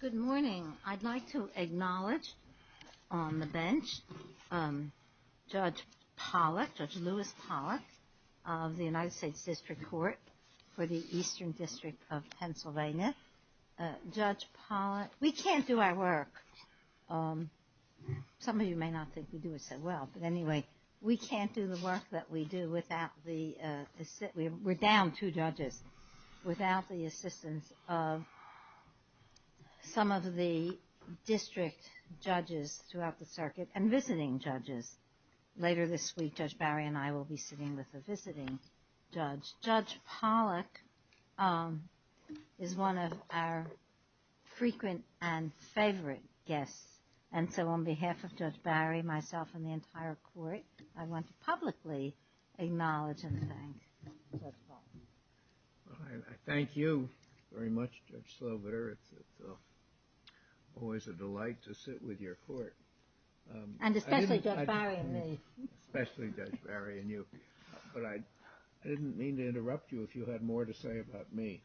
Good morning. I'd like to acknowledge on the bench Judge Lewis Pollack of the United States District Court for the Eastern District of Pennsylvania. Judge Pollack, we can't do our work. Some of you may not think we do it so well, but anyway, we can't do the work that we do without the, we're down two judges, without the assistance of some of the district judges throughout the circuit and visiting judges. Later this week, Judge Barry and I will be sitting with a visiting judge. Judge Pollack is one of our frequent and favorite guests, and so on behalf of Judge Barry, myself, and the entire court, I want to publicly acknowledge and thank Judge Pollack. I thank you very much, Judge Slover. It's always a delight to sit with your court. And especially Judge Barry and me. Especially Judge Barry and you. But I didn't mean to interrupt you if you had more to say about me.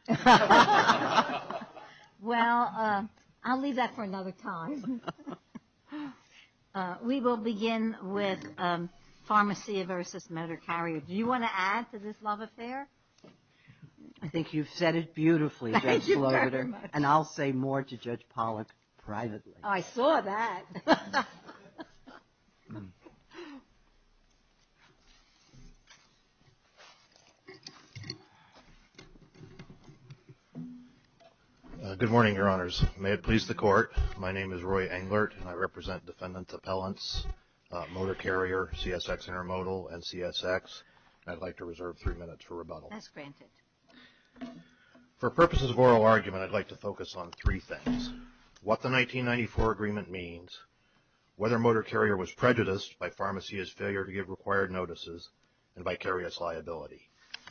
Well, I'll leave that for another time. We will begin with Pharmacia v. Motor Carrier. Do you want to add to this love affair? I think you've said it beautifully, Judge Slover. Thank you very much. And I'll say more to Judge Pollack privately. I saw that. Good morning, Your Honors. May it please the Court, my name is Roy Englert, and I represent Defendant Appellants, Motor Carrier, CSX Intermodal, and CSX. I'd like to reserve three minutes for rebuttal. That's granted. For purposes of oral argument, I'd like to focus on three things. What the 1994 agreement means, whether Motor Carrier was prejudiced by Pharmacia's failure to give required notices, and vicarious liability.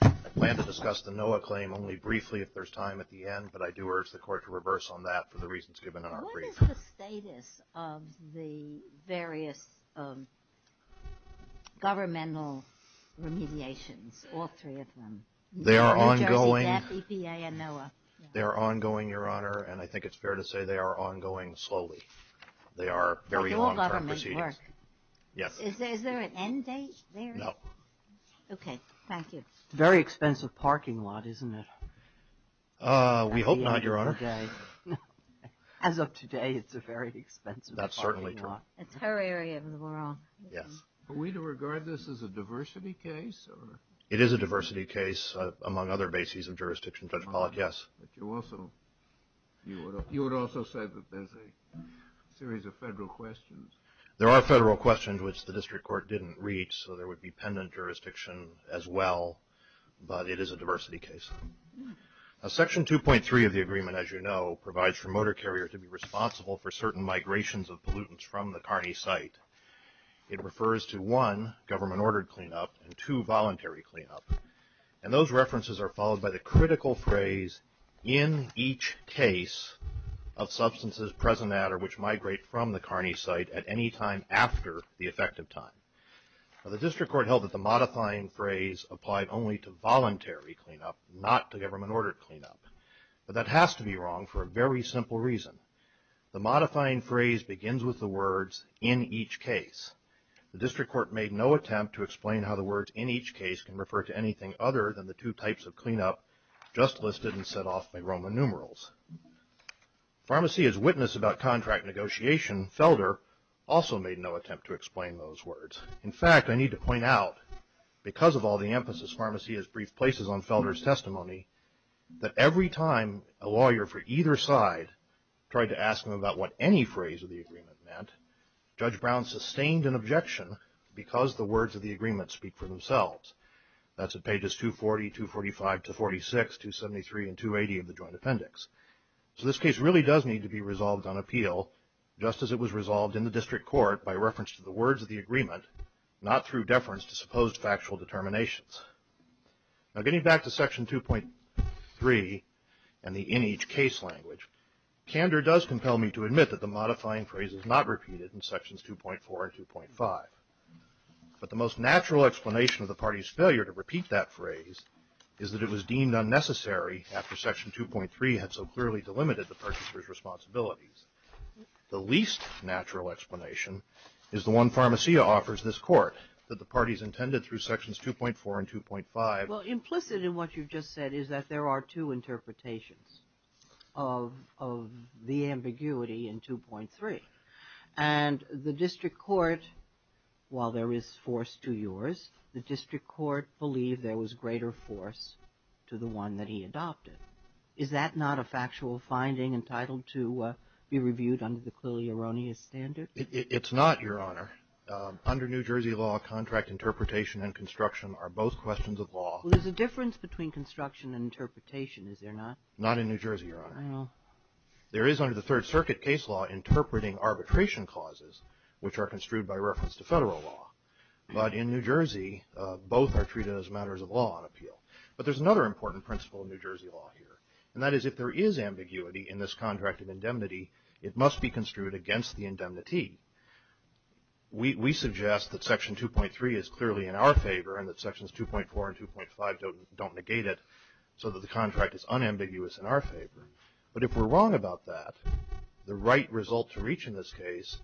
I plan to discuss the NOAA claim only briefly if there's time at the end, but I do urge the Court to reverse on that for the reasons given in our brief. What is the status of the various governmental remediations, all three of them? They are ongoing, Your Honor, and I think it's fair to say they are ongoing slowly. They are very long-term proceedings. Does all government work? Yes. Is there an end date there? No. Okay, thank you. It's a very expensive parking lot, isn't it? We hope not, Your Honor. As of today, it's a very expensive parking lot. That's certainly true. It's her area of the world. Yes. Are we to regard this as a diversity case? It is a diversity case among other bases of jurisdiction, Judge Pollack, yes. But you also said that there's a series of federal questions. There are federal questions which the District Court didn't reach, so there would be pendant jurisdiction as well, but it is a diversity case. Section 2.3 of the agreement, as you know, provides for motor carriers to be responsible for certain migrations of pollutants from the CARNEY site. It refers to one, government-ordered cleanup, and two, voluntary cleanup. And those references are followed by the critical phrase, in each case of substances present at or which migrate from the CARNEY site at any time after the effective time. The District Court held that the modifying phrase applied only to voluntary cleanup, not to government-ordered cleanup. But that has to be wrong for a very simple reason. The modifying phrase begins with the words, in each case. The District Court made no attempt to explain how the words, in each case, can refer to anything other than the two types of cleanup just listed and set off by Roman numerals. Pharmacy as witness about contract negotiation, Felder, also made no attempt to explain those words. In fact, I need to point out, because of all the emphasis Pharmacy has briefed places on Felder's testimony, that every time a lawyer for either side tried to ask him about what any phrase of the agreement meant, Judge Brown sustained an objection because the words of the agreement speak for themselves. That's at pages 240, 245 to 46, 273 and 280 of the Joint Appendix. So this case really does need to be resolved on appeal, just as it was resolved in the District Court by reference to the words of the agreement, not through deference to supposed factual determinations. Now getting back to Section 2.3 and the in each case language, candor does compel me to admit that the modifying phrase is not repeated in Sections 2.4 and 2.5. But the most natural explanation of the party's failure to repeat that phrase is that it was deemed unnecessary after Section 2.3 had so clearly delimited the purchaser's responsibilities. The least natural explanation is the one Pharmacia offers this Court, that the parties intended through Sections 2.4 and 2.5. Well, implicit in what you've just said is that there are two interpretations of the ambiguity in 2.3. And the District Court, while there is force to yours, the District Court believed there was greater force to the one that he adopted. Is that not a factual finding entitled to be reviewed under the clearly erroneous standard? It's not, Your Honor. Under New Jersey law, contract interpretation and construction are both questions of law. Well, there's a difference between construction and interpretation, is there not? Not in New Jersey, Your Honor. There is under the Third Circuit case law interpreting arbitration causes, which are construed by reference to federal law. But in New Jersey, both are treated as matters of law and appeal. But there's another important principle in New Jersey law here, and that is if there is ambiguity in this contract of indemnity, it must be construed against the indemnity. We suggest that Section 2.3 is clearly in our favor and that Sections 2.4 and 2.5 don't negate it so that the contract is unambiguous in our favor. But if we're wrong about that, the right result to reach in this case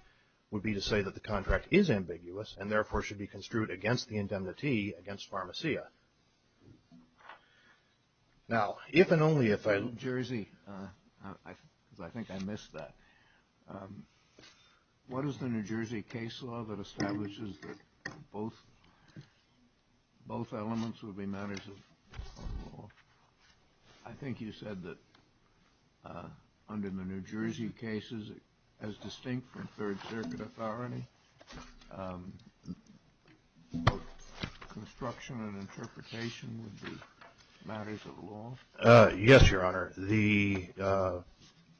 would be to say that the contract is ambiguous and therefore should be construed against the indemnity against Pharmacia. Now, if and only if I – New Jersey, because I think I missed that. What is the New Jersey case law that establishes that both elements would be matters of law? I think you said that under the New Jersey cases, as distinct from Third Circuit authority, construction and interpretation would be matters of law. Yes, Your Honor. The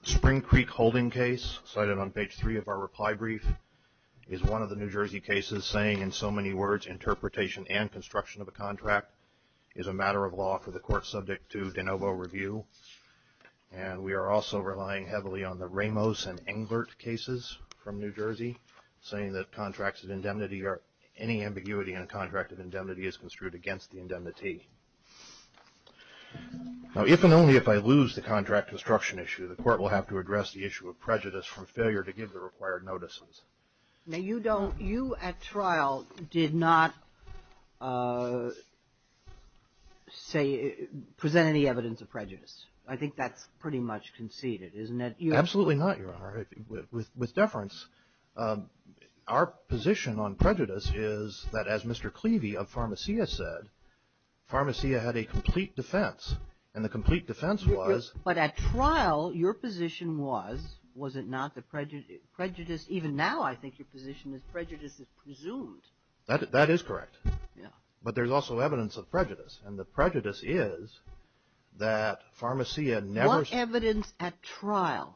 Spring Creek holding case, cited on page three of our reply brief, is one of the New Jersey cases saying, in so many words, interpretation and construction of a contract is a matter of law for the court subject to de novo review. And we are also relying heavily on the Ramos and Englert cases from New Jersey, saying that contracts of indemnity or any ambiguity in a contract of indemnity is construed against the indemnity. Now, if and only if I lose the contract construction issue, the court will have to address the issue of prejudice from failure to give the required notices. Now, you don't – you at trial did not say – present any evidence of prejudice. I think that's pretty much conceded, isn't it? Absolutely not, Your Honor. With deference, our position on prejudice is that, as Mr. Clevey of Pharmacia said, Pharmacia had a complete defense. And the complete defense was – But at trial, your position was, was it not that prejudice – even now I think your position is prejudice is presumed. That is correct. Yeah. But there's also evidence of prejudice. And the prejudice is that Pharmacia never – The evidence of prejudice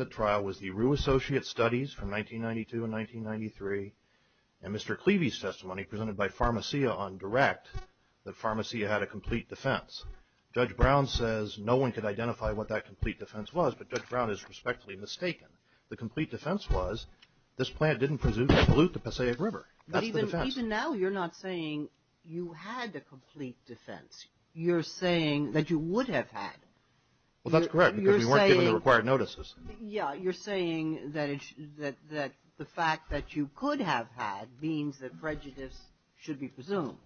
at trial was the Rue Associate Studies from 1992 and 1993 and Mr. Clevey's testimony presented by Pharmacia on direct that Pharmacia had a complete defense. Judge Brown says no one could identify what that complete defense was, but Judge Brown is respectfully mistaken. The complete defense was this plant didn't presume to pollute the Passaic River. That's the defense. But even now you're not saying you had a complete defense. You're saying that you would have had. Well, that's correct because we weren't given the required notices. Yeah, you're saying that the fact that you could have had means that prejudice should be presumed.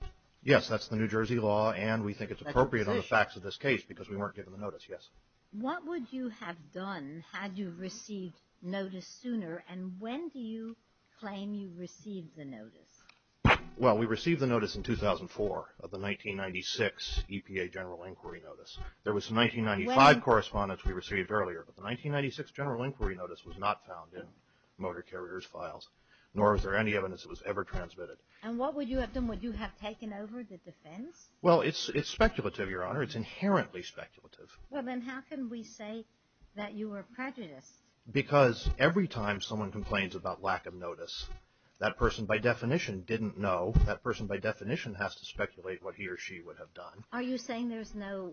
Yes, that's the New Jersey law, and we think it's appropriate on the facts of this case because we weren't given the notice, yes. What would you have done had you received notice sooner, and when do you claim you received the notice? Well, we received the notice in 2004 of the 1996 EPA General Inquiry Notice. There was 1995 correspondence we received earlier, but the 1996 General Inquiry Notice was not found in motor carrier's files, nor is there any evidence it was ever transmitted. And what would you have done? Would you have taken over the defense? Well, it's speculative, Your Honor. It's inherently speculative. Well, then how can we say that you were prejudiced? Because every time someone complains about lack of notice, that person by definition didn't know. That person by definition has to speculate what he or she would have done. Are you saying there's no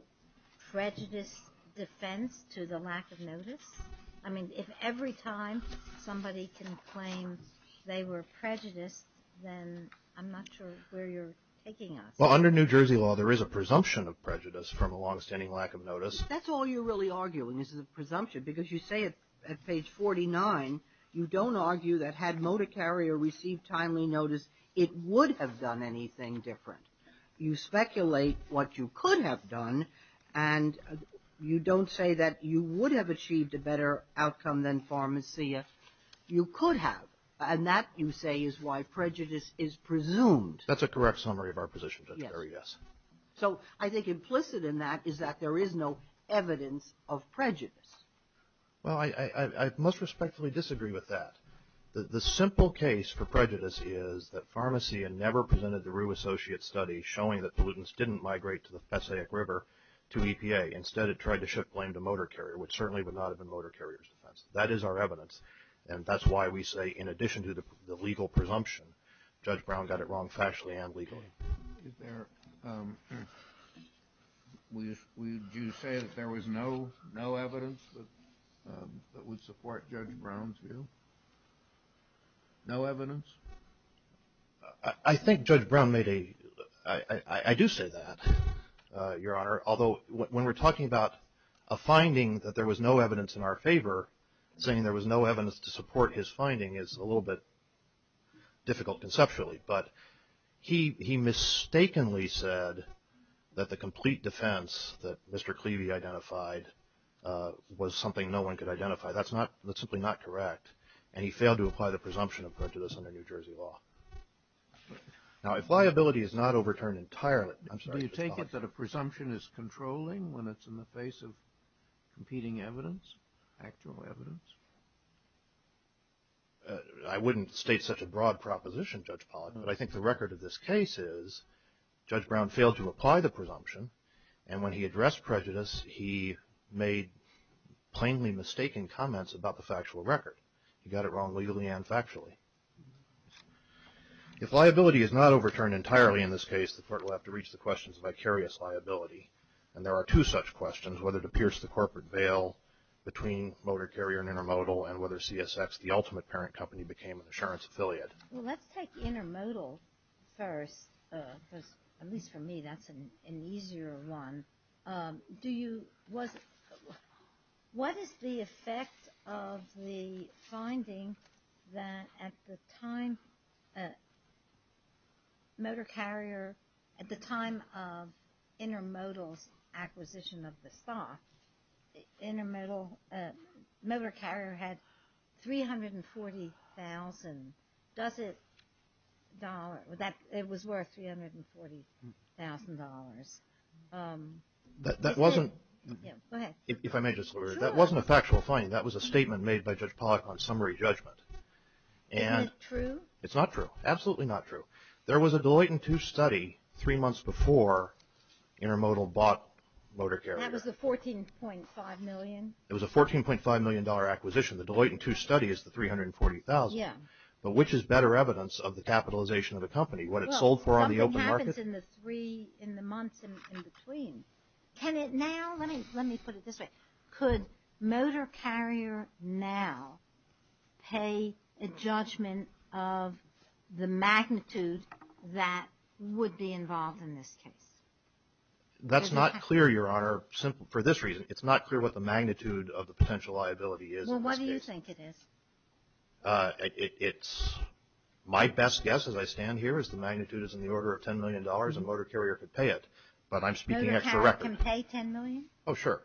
prejudice defense to the lack of notice? I mean, if every time somebody can claim they were prejudiced, then I'm not sure where you're taking us. Well, under New Jersey law, there is a presumption of prejudice from a longstanding lack of notice. That's all you're really arguing is a presumption, because you say at page 49, you don't argue that had motor carrier received timely notice, it would have done anything different. You speculate what you could have done, and you don't say that you would have achieved a better outcome than Pharmacia. You could have, and that, you say, is why prejudice is presumed. That's a correct summary of our position, Judge Barry, yes. So I think implicit in that is that there is no evidence of prejudice. Well, I most respectfully disagree with that. The simple case for prejudice is that Pharmacia never presented the Rue Associates study showing that pollutants didn't migrate to the Passaic River to EPA. Instead, it tried to shift blame to motor carrier, which certainly would not have been motor carrier's defense. That is our evidence, and that's why we say in addition to the legal presumption, Judge Brown got it wrong factually and legally. Would you say that there was no evidence that would support Judge Brown's view? No evidence? I think Judge Brown made a, I do say that, Your Honor. Although when we're talking about a finding that there was no evidence in our favor, saying there was no evidence to support his finding is a little bit difficult conceptually. But he mistakenly said that the complete defense that Mr. Cleavey identified was something no one could identify. That's simply not correct. And he failed to apply the presumption of prejudice under New Jersey law. Now, if liability is not overturned entirely, I'm sorry. Do you take it that a presumption is controlling when it's in the face of competing evidence, actual evidence? I wouldn't state such a broad proposition, Judge Pollack. But I think the record of this case is Judge Brown failed to apply the presumption. And when he addressed prejudice, he made plainly mistaken comments about the factual record. He got it wrong legally and factually. If liability is not overturned entirely in this case, the court will have to reach the question of vicarious liability. And there are two such questions, whether to pierce the corporate veil between Motor Carrier and Intermodal and whether CSX, the ultimate parent company, became an insurance affiliate. Well, let's take Intermodal first because, at least for me, that's an easier one. What is the effect of the finding that at the time Motor Carrier, at the time of Intermodal's acquisition of the stock, Motor Carrier had $340,000. It was worth $340,000. That wasn't a factual finding. That was a statement made by Judge Pollack on summary judgment. Isn't it true? It's not true. Absolutely not true. There was a Deloittan II study three months before Intermodal bought Motor Carrier. That was the $14.5 million? It was a $14.5 million acquisition. The Deloittan II study is the $340,000. Yeah. But which is better evidence of the capitalization of a company? What it sold for on the open market? Well, something happens in the three, in the months in between. Can it now? Let me put it this way. Could Motor Carrier now pay a judgment of the magnitude that would be involved in this case? That's not clear, Your Honor, for this reason. It's not clear what the magnitude of the potential liability is in this case. Well, what do you think it is? It's my best guess as I stand here is the magnitude is in the order of $10 million and Motor Carrier could pay it. But I'm speaking extra record. Motor Carrier can pay $10 million? Oh, sure.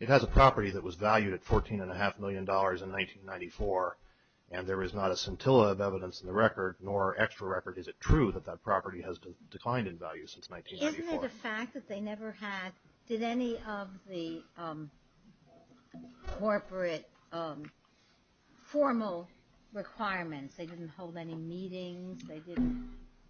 It has a property that was valued at $14.5 million in 1994, and there is not a scintilla of evidence in the record nor extra record. Is it true that that property has declined in value since 1994? Given the fact that they never had, did any of the corporate formal requirements, they didn't hold any meetings, they didn't,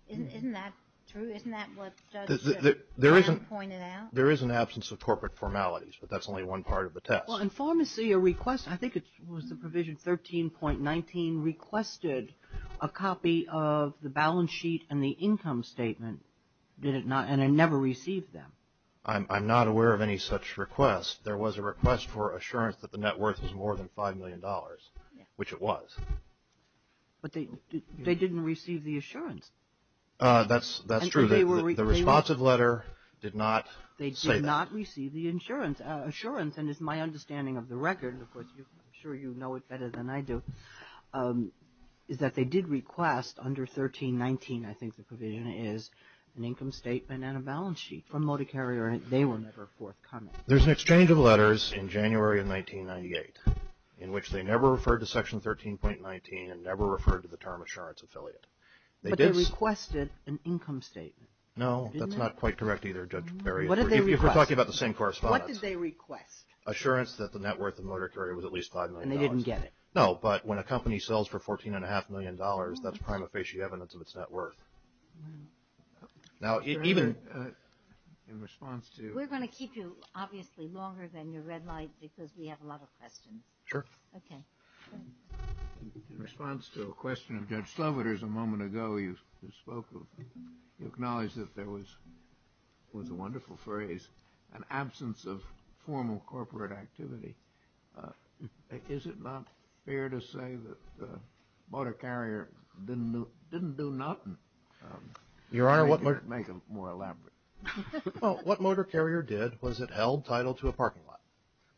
isn't that true? Isn't that what judges have pointed out? There is an absence of corporate formalities, but that's only one part of the test. Well, in pharmacy a request, I think it was the provision 13.19, requested a copy of the balance sheet and the income statement. And it never received them. I'm not aware of any such request. There was a request for assurance that the net worth was more than $5 million, which it was. But they didn't receive the assurance. That's true. The responsive letter did not say that. They did not receive the insurance. Assurance, and it's my understanding of the record, and of course I'm sure you know it better than I do, is that they did request under 13.19, I think the provision is, an income statement and a balance sheet from Motor Carrier and they were never forthcoming. There's an exchange of letters in January of 1998 in which they never referred to section 13.19 and never referred to the term assurance affiliate. But they requested an income statement. No, that's not quite correct either, Judge Barry. If we're talking about the same correspondence. What did they request? Assurance that the net worth of Motor Carrier was at least $5 million. And they didn't get it. No, but when a company sells for $14.5 million, that's prima facie evidence of its net worth. Now even in response to- We're going to keep you obviously longer than your red light because we have a lot of questions. Sure. Okay. In response to a question of Judge Sloviter's a moment ago, you spoke of, you acknowledged that there was, it was a wonderful phrase, an absence of formal corporate activity. Is it not fair to say that Motor Carrier didn't do nothing? Your Honor, what- Make it more elaborate. Well, what Motor Carrier did was it held title to a parking lot.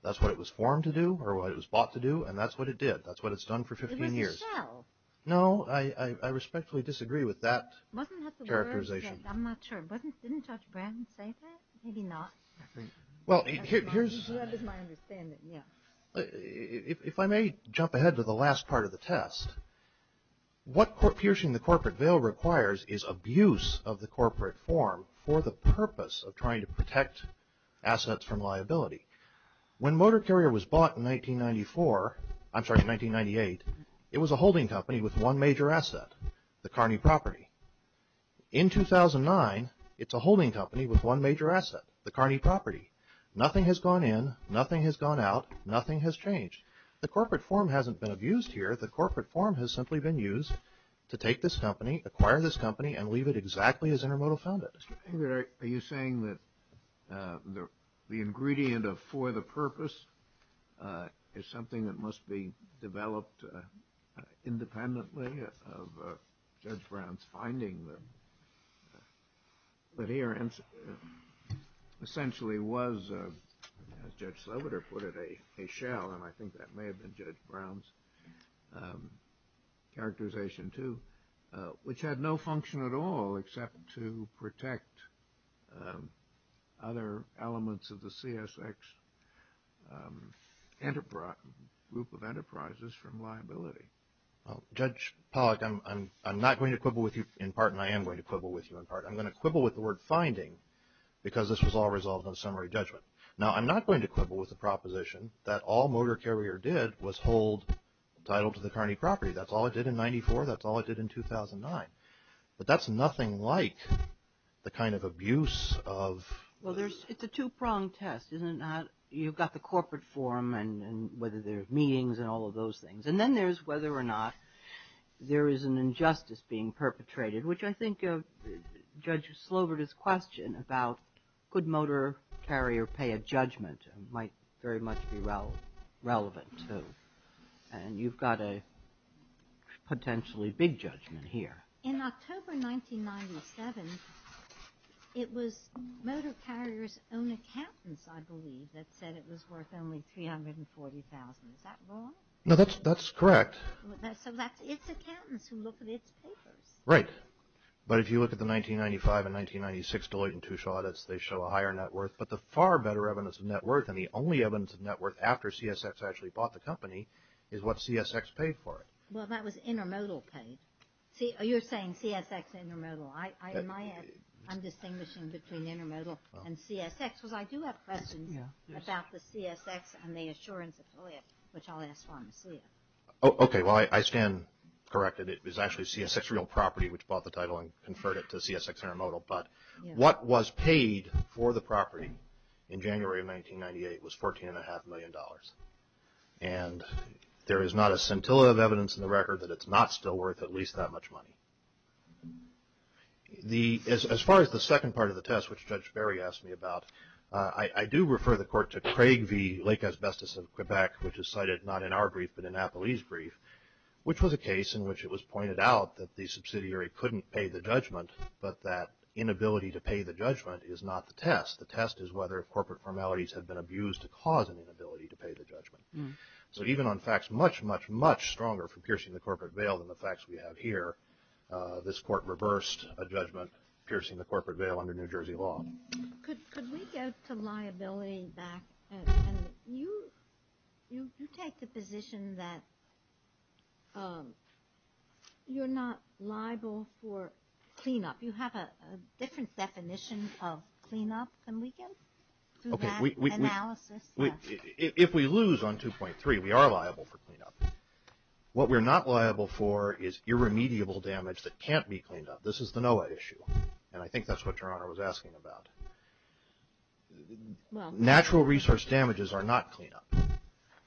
That's what it was formed to do or what it was bought to do, and that's what it did. That's what it's done for 15 years. It was a shell. No, I respectfully disagree with that characterization. Wasn't that the word? I'm not sure. Didn't Judge Branton say that? Maybe not. Well, here's- If I may jump ahead to the last part of the test, what piercing the corporate veil requires is abuse of the corporate form for the purpose of trying to protect assets from liability. When Motor Carrier was bought in 1994, I'm sorry, in 1998, it was a holding company with one major asset, the Kearney property. In 2009, it's a holding company with one major asset, the Kearney property. Nothing has gone in, nothing has gone out, nothing has changed. The corporate form hasn't been abused here. The corporate form has simply been used to take this company, acquire this company, and leave it exactly as Intermodal found it. Are you saying that the ingredient of for the purpose is something that must be developed independently of Judge Brown's finding? But here essentially was, as Judge Sloboda put it, a shell, and I think that may have been Judge Brown's characterization too, which had no function at all except to protect other elements of the CSX group of enterprises from liability. Judge Pollack, I'm not going to quibble with you in part, and I am going to quibble with you in part. I'm going to quibble with the word finding because this was all resolved on summary judgment. Now, I'm not going to quibble with the proposition that all Motor Carrier did was hold title to the Kearney property. That's all it did in 94. That's all it did in 2009. But that's nothing like the kind of abuse of… Well, it's a two-pronged test, isn't it? You've got the corporate form and whether there are meetings and all of those things. And then there's whether or not there is an injustice being perpetrated, which I think Judge Sloboda's question about could Motor Carrier pay a judgment might very much be relevant too. And you've got a potentially big judgment here. In October 1997, it was Motor Carrier's own accountants, I believe, that said it was worth only $340,000. Is that wrong? No, that's correct. So that's its accountants who look at its papers. Right. But if you look at the 1995 and 1996 Deloitte and Touche audits, they show a higher net worth. But the far better evidence of net worth and the only evidence of net worth after CSX actually bought the company is what CSX paid for it. Well, that was Intermodal paid. You're saying CSX Intermodal. I'm distinguishing between Intermodal and CSX because I do have questions about the CSX and the Assurance Affiliate, which I'll ask Fawn to see. Okay. Well, I stand corrected. It was actually CSX Real Property, which bought the title and conferred it to CSX Intermodal. But what was paid for the property in January of 1998 was $14.5 million. And there is not a scintilla of evidence in the record that it's not still worth at least that much money. As far as the second part of the test, which Judge Barry asked me about, I do refer the court to Craig v. Lake Asbestos of Quebec, which is cited not in our brief but in Napoli's brief, which was a case in which it was pointed out that the subsidiary couldn't pay the judgment, but that inability to pay the judgment is not the test. The test is whether corporate formalities have been abused to cause an inability to pay the judgment. So even on facts much, much, much stronger for piercing the corporate veil than the facts we have here, this court reversed a judgment, piercing the corporate veil under New Jersey law. Could we go to liability back? And you take the position that you're not liable for cleanup. You have a different definition of cleanup than we do through that analysis. If we lose on 2.3, we are liable for cleanup. What we're not liable for is irremediable damage that can't be cleaned up. This is the NOAA issue, and I think that's what Your Honor was asking about. Natural resource damages are not cleanup.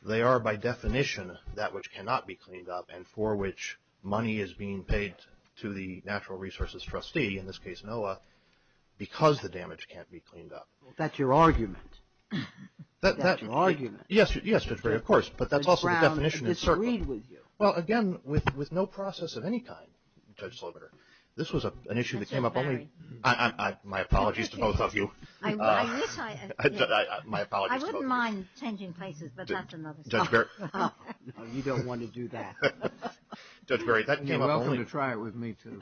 They are, by definition, that which cannot be cleaned up and for which money is being paid to the natural resources trustee, in this case NOAA, because the damage can't be cleaned up. That's your argument. That's your argument. Yes, Judge Barry, of course. But that's also the definition. It's agreed with you. Well, again, with no process of any kind, Judge Slobiter, this was an issue that came up only – Both of you. My apologies. I wouldn't mind changing places, but that's another story. You don't want to do that. Judge Barry, that came up only – You're welcome to try it with me, too.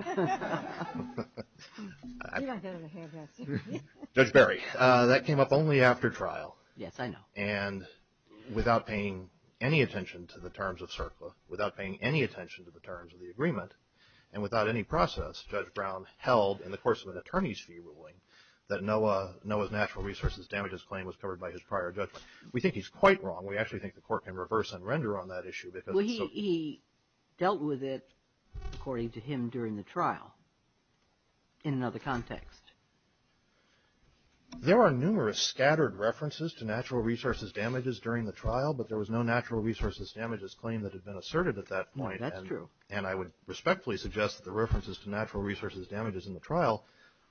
Judge Barry, that came up only after trial. Yes, I know. And without paying any attention to the terms of CERCLA, without paying any attention to the terms of the agreement, and without any process, Judge Brown held, in the course of an attorney's fee ruling, that NOAA's natural resources damages claim was covered by his prior judgment. We think he's quite wrong. We actually think the Court can reverse and render on that issue because it's so – Well, he dealt with it, according to him, during the trial in another context. There are numerous scattered references to natural resources damages during the trial, but there was no natural resources damages claim that had been asserted at that point. That's true.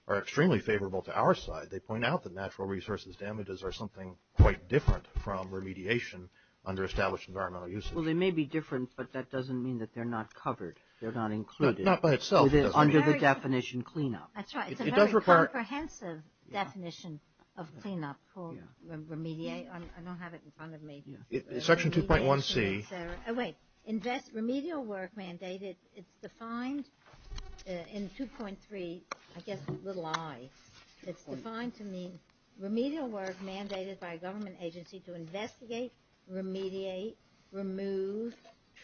are extremely favorable to our side. They point out that natural resources damages are something quite different from remediation under established environmental usage. Well, they may be different, but that doesn't mean that they're not covered. They're not included. Not by itself. Under the definition, cleanup. That's right. It's a very comprehensive definition of cleanup called remediate. I don't have it in front of me. Section 2.1c. Wait. Remedial work mandated. It's defined in 2.3, I guess, little i. It's defined to mean remedial work mandated by a government agency to investigate, remediate, remove,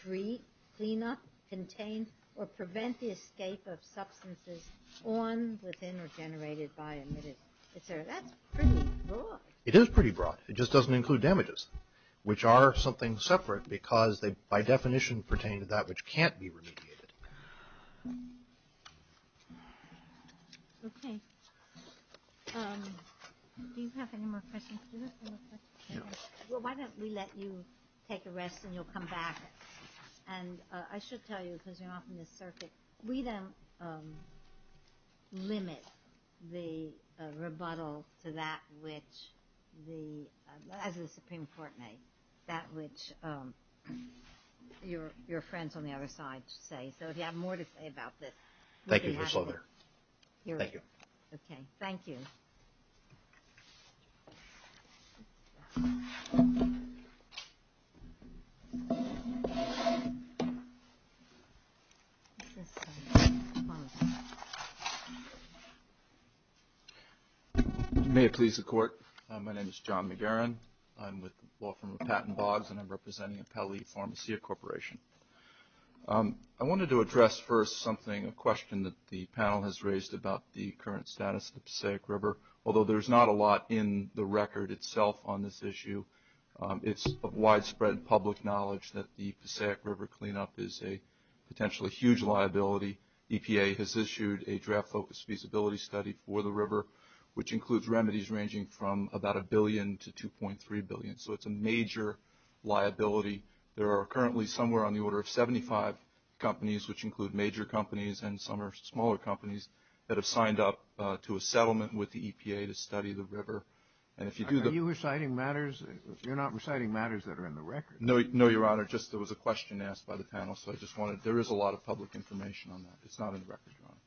treat, clean up, contain, or prevent the escape of substances on, within, or generated by, emitted, etc. That's pretty broad. It is pretty broad. It just doesn't include damages, which are something separate, because they, by definition, pertain to that which can't be remediated. Okay. Do you have any more questions? Do you have any more questions? Sure. Well, why don't we let you take a rest and you'll come back. And I should tell you, because you're not from this circuit, we don't limit the rebuttal to that which the, as the Supreme Court may, that which your friends on the other side say. So if you have more to say about this. Thank you, First Lady. Thank you. Okay. Thank you. Thank you. May it please the Court. My name is John McGarren. I'm with the law firm of Patton Boggs, and I'm representing Pele Pharmacia Corporation. I wanted to address first something, a question that the panel has raised about the current status of the Passaic River, although there's not a lot in the record itself on this issue. It's of widespread public knowledge that the Passaic River cleanup is a potentially huge liability. EPA has issued a draft focus feasibility study for the river, which includes remedies ranging from about $1 billion to $2.3 billion. So it's a major liability. There are currently somewhere on the order of 75 companies, which include major companies and some are smaller companies, that have signed up to a settlement with the EPA to study the river. Are you reciting matters? You're not reciting matters that are in the record. No, Your Honor. Just there was a question asked by the panel. So I just wanted to, there is a lot of public information on that. It's not in the record, Your Honor.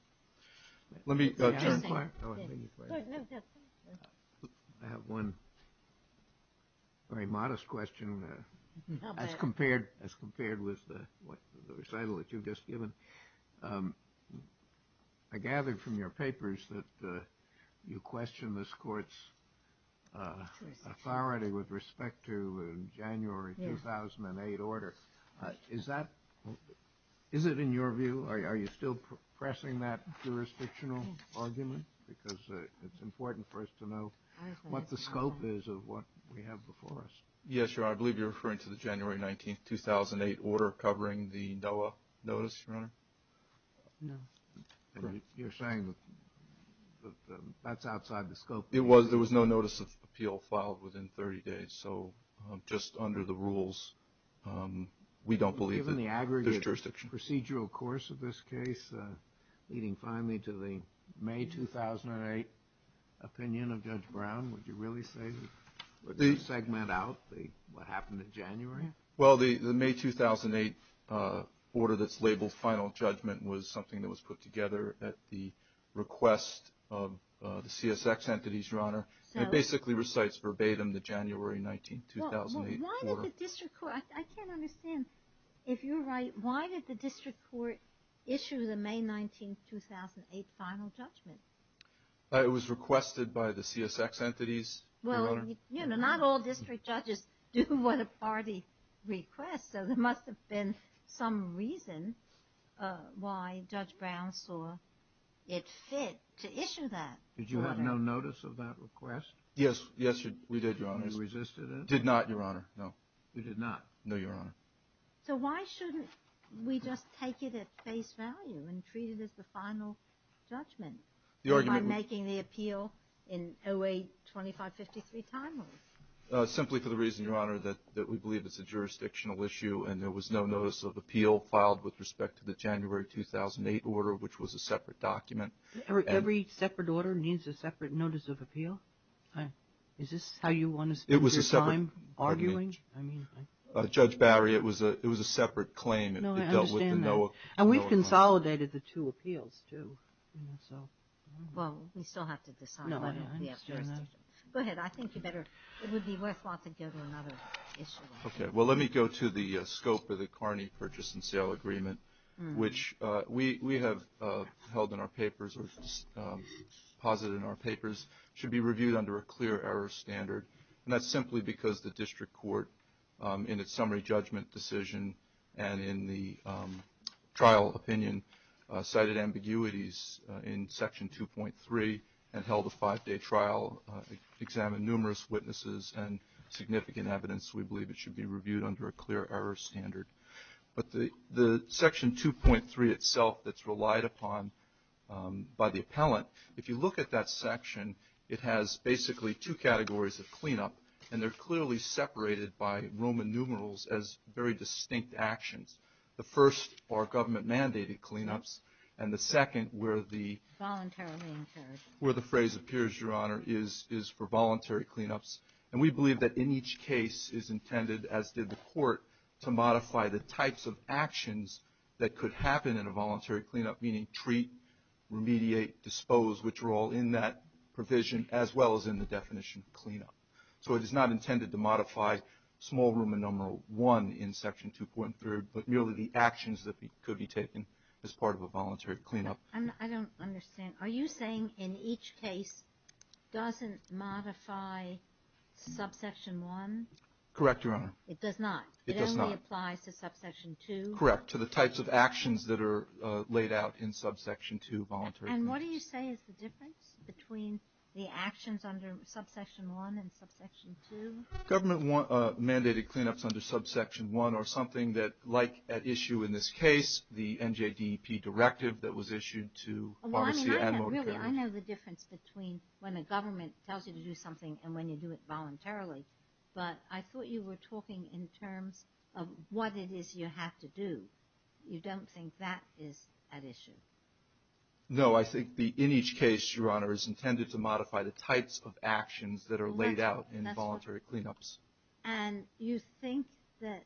Let me turn. I have one very modest question. As compared with the recital that you've just given, I gathered from your papers that you question this court's authority with respect to January 2008 order. Is that, is it in your view, are you still pressing that jurisdictional argument? Because it's important for us to know what the scope is of what we have before us. Yes, Your Honor. I believe you're referring to the January 19, 2008 order covering the NOAA notice, Your Honor. No. You're saying that that's outside the scope. It was. There was no notice of appeal filed within 30 days. So just under the rules, we don't believe that there's jurisdiction. Given the aggregate procedural course of this case, leading finally to the May 2008 opinion of Judge Brown, would you really segment out what happened in January? Well, the May 2008 order that's labeled final judgment was something that was put together at the request of the CSX entities, Your Honor. It basically recites verbatim the January 19, 2008 order. I can't understand. If you're right, why did the district court issue the May 19, 2008 final judgment? It was requested by the CSX entities, Your Honor. Well, not all district judges do what a party requests, so there must have been some reason why Judge Brown saw it fit to issue that order. Did you have no notice of that request? Yes, we did, Your Honor. You resisted it? Did not, Your Honor, no. You did not? No, Your Honor. So why shouldn't we just take it at face value and treat it as the final judgment by making the appeal in 08-2553 time? Simply for the reason, Your Honor, that we believe it's a jurisdictional issue and there was no notice of appeal filed with respect to the January 2008 order, which was a separate document. Every separate order needs a separate notice of appeal? Is this how you want to spend your time arguing? Judge Barry, it was a separate claim. No, I understand that. And we've consolidated the two appeals, too. Well, we still have to decide. No, I understand that. Go ahead. I think it would be worthwhile to go to another issue. Okay. Well, let me go to the scope of the Carney Purchase and Sale Agreement, which we have held in our papers or posited in our papers should be reviewed under a clear error standard, and that's simply because the district court, in its summary judgment decision and in the trial opinion, cited ambiguities in Section 2.3 and held a five-day trial, examined numerous witnesses and significant evidence we believe it should be reviewed under a clear error standard. But the Section 2.3 itself that's relied upon by the appellant, if you look at that section, it has basically two categories of cleanup, and they're clearly separated by Roman numerals as very distinct actions. The first are government-mandated cleanups, and the second where the phrase appears, Your Honor, is for voluntary cleanups. And we believe that in each case is intended, as did the court, to modify the types of actions that could happen in a voluntary cleanup, meaning treat, remediate, dispose, which are all in that provision, as well as in the definition of cleanup. So it is not intended to modify small Roman numeral 1 in Section 2.3, but merely the actions that could be taken as part of a voluntary cleanup. I don't understand. Are you saying in each case doesn't modify subsection 1? Correct, Your Honor. It does not? It does not. It only applies to subsection 2? Correct, to the types of actions that are laid out in subsection 2, voluntary cleanups. And what do you say is the difference between the actions under subsection 1 and subsection 2? Government-mandated cleanups under subsection 1 are something that, like at issue in this case, the NJDEP directive that was issued to Bonacie and Motor Carriage. Really, I know the difference between when a government tells you to do something and when you do it voluntarily, but I thought you were talking in terms of what it is you have to do. You don't think that is at issue? No, I think in each case, Your Honor, is intended to modify the types of actions that are laid out in voluntary cleanups. And you think that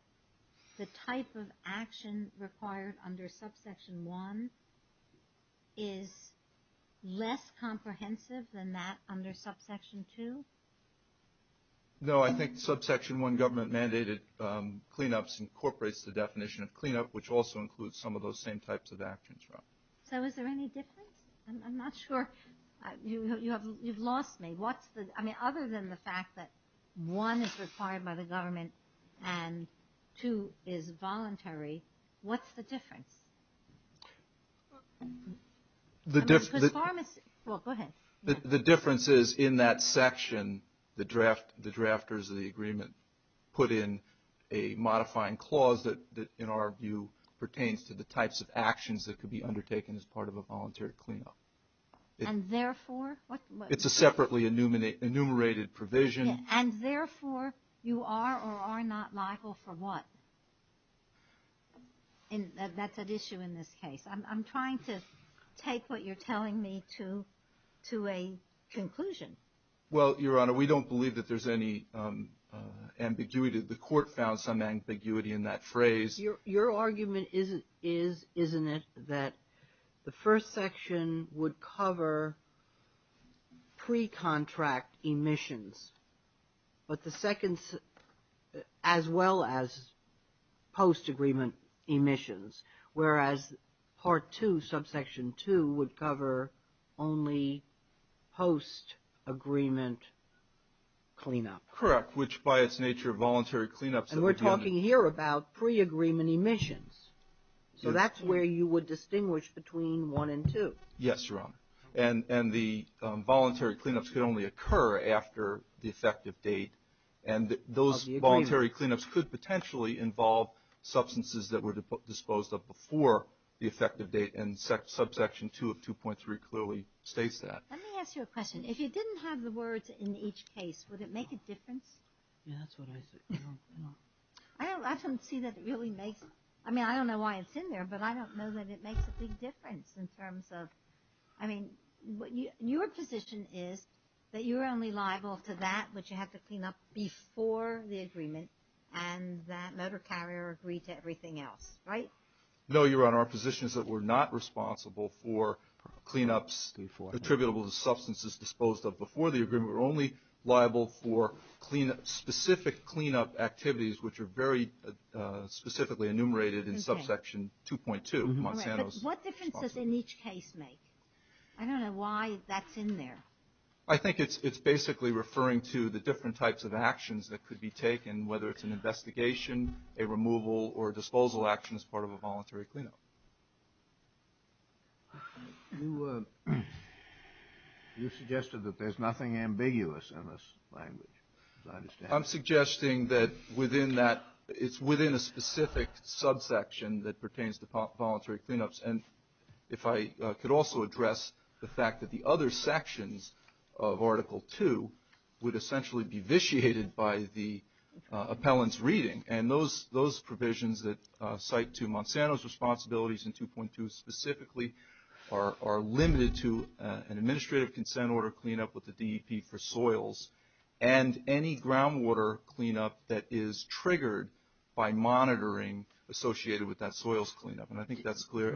the type of action required under subsection 1 is less comprehensive than that under subsection 2? No, I think subsection 1 government-mandated cleanups incorporates the definition of cleanup, which also includes some of those same types of actions, Your Honor. So is there any difference? I'm not sure. You've lost me. I mean, other than the fact that 1 is required by the government and 2 is voluntary, what's the difference? Well, go ahead. The difference is in that section, the drafters of the agreement put in a modifying clause that, in our view, pertains to the types of actions that could be undertaken as part of a voluntary cleanup. And therefore? It's a separately enumerated provision. And therefore, you are or are not liable for what? That's at issue in this case. I'm trying to take what you're telling me to a conclusion. Well, Your Honor, we don't believe that there's any ambiguity. The Court found some ambiguity in that phrase. Your argument is, isn't it, that the first section would cover pre-contract emissions, as well as post-agreement emissions, whereas Part 2, Subsection 2, would cover only post-agreement cleanup? Correct. Which, by its nature, voluntary cleanups. And we're talking here about pre-agreement emissions. So that's where you would distinguish between 1 and 2. Yes, Your Honor. And the voluntary cleanups could only occur after the effective date. And those voluntary cleanups could potentially involve substances that were disposed of before the effective date. And Subsection 2 of 2.3 clearly states that. Let me ask you a question. If you didn't have the words in each case, would it make a difference? Yeah, that's what I said. I don't see that it really makes – I mean, I don't know why it's in there, but I don't know that it makes a big difference in terms of – I mean, your position is that you're only liable to that, which you have to clean up before the agreement, and that motor carrier agreed to everything else, right? No, Your Honor. Our position is that we're not responsible for cleanups attributable to substances disposed of before the agreement. We're only liable for specific cleanup activities, which are very specifically enumerated in Subsection 2.2. But what difference does in each case make? I don't know why that's in there. I think it's basically referring to the different types of actions that could be involved, whether it's an investigation, a removal, or a disposal action as part of a voluntary cleanup. You suggested that there's nothing ambiguous in this language, as I understand it. I'm suggesting that within that – it's within a specific subsection that pertains to voluntary cleanups. And if I could also address the fact that the other sections of Article 2 would essentially be vitiated by the appellant's reading. And those provisions that cite to Monsanto's responsibilities in 2.2 specifically are limited to an administrative consent order cleanup with the DEP for soils and any groundwater cleanup that is triggered by monitoring associated with that soils cleanup. And I think that's clear.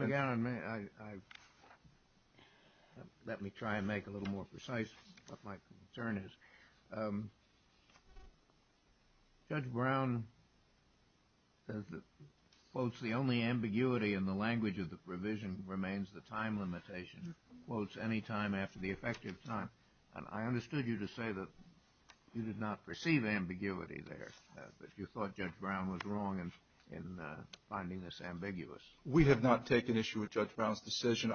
Let me try and make a little more precise what my concern is. Judge Brown says that, quotes, the only ambiguity in the language of the provision remains the time limitation, quotes, any time after the effective time. And I understood you to say that you did not perceive ambiguity there, but you thought Judge Brown was wrong in finding this ambiguous. We have not taken issue with Judge Brown's decision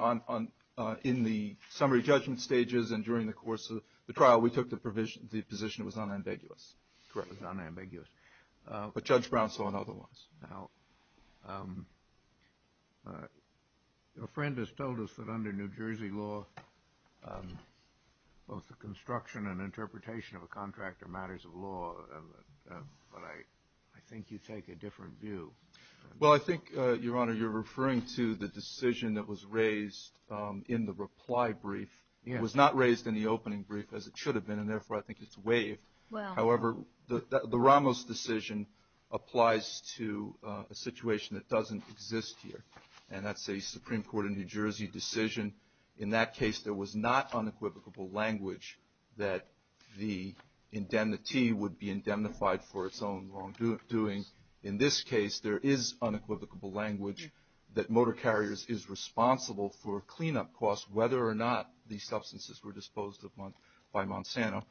in the summary judgment stages and during the course of the trial. We took the position it was unambiguous. Correct. It was unambiguous. But Judge Brown saw it otherwise. Now, a friend has told us that under New Jersey law, both the construction and interpretation of a contract are matters of law. But I think you take a different view. Well, I think, Your Honor, you're referring to the decision that was raised in the reply brief. It was not raised in the opening brief as it should have been, and therefore I think it's waived. However, the Ramos decision applies to a situation that doesn't exist here. And that's a Supreme Court of New Jersey decision. In that case, there was not unequivocal language that the indemnity would be indemnified for its own long doing. In this case, there is unequivocal language that Motor Carriers is responsible for cleanup costs, whether or not these substances were disposed of by Monsanto.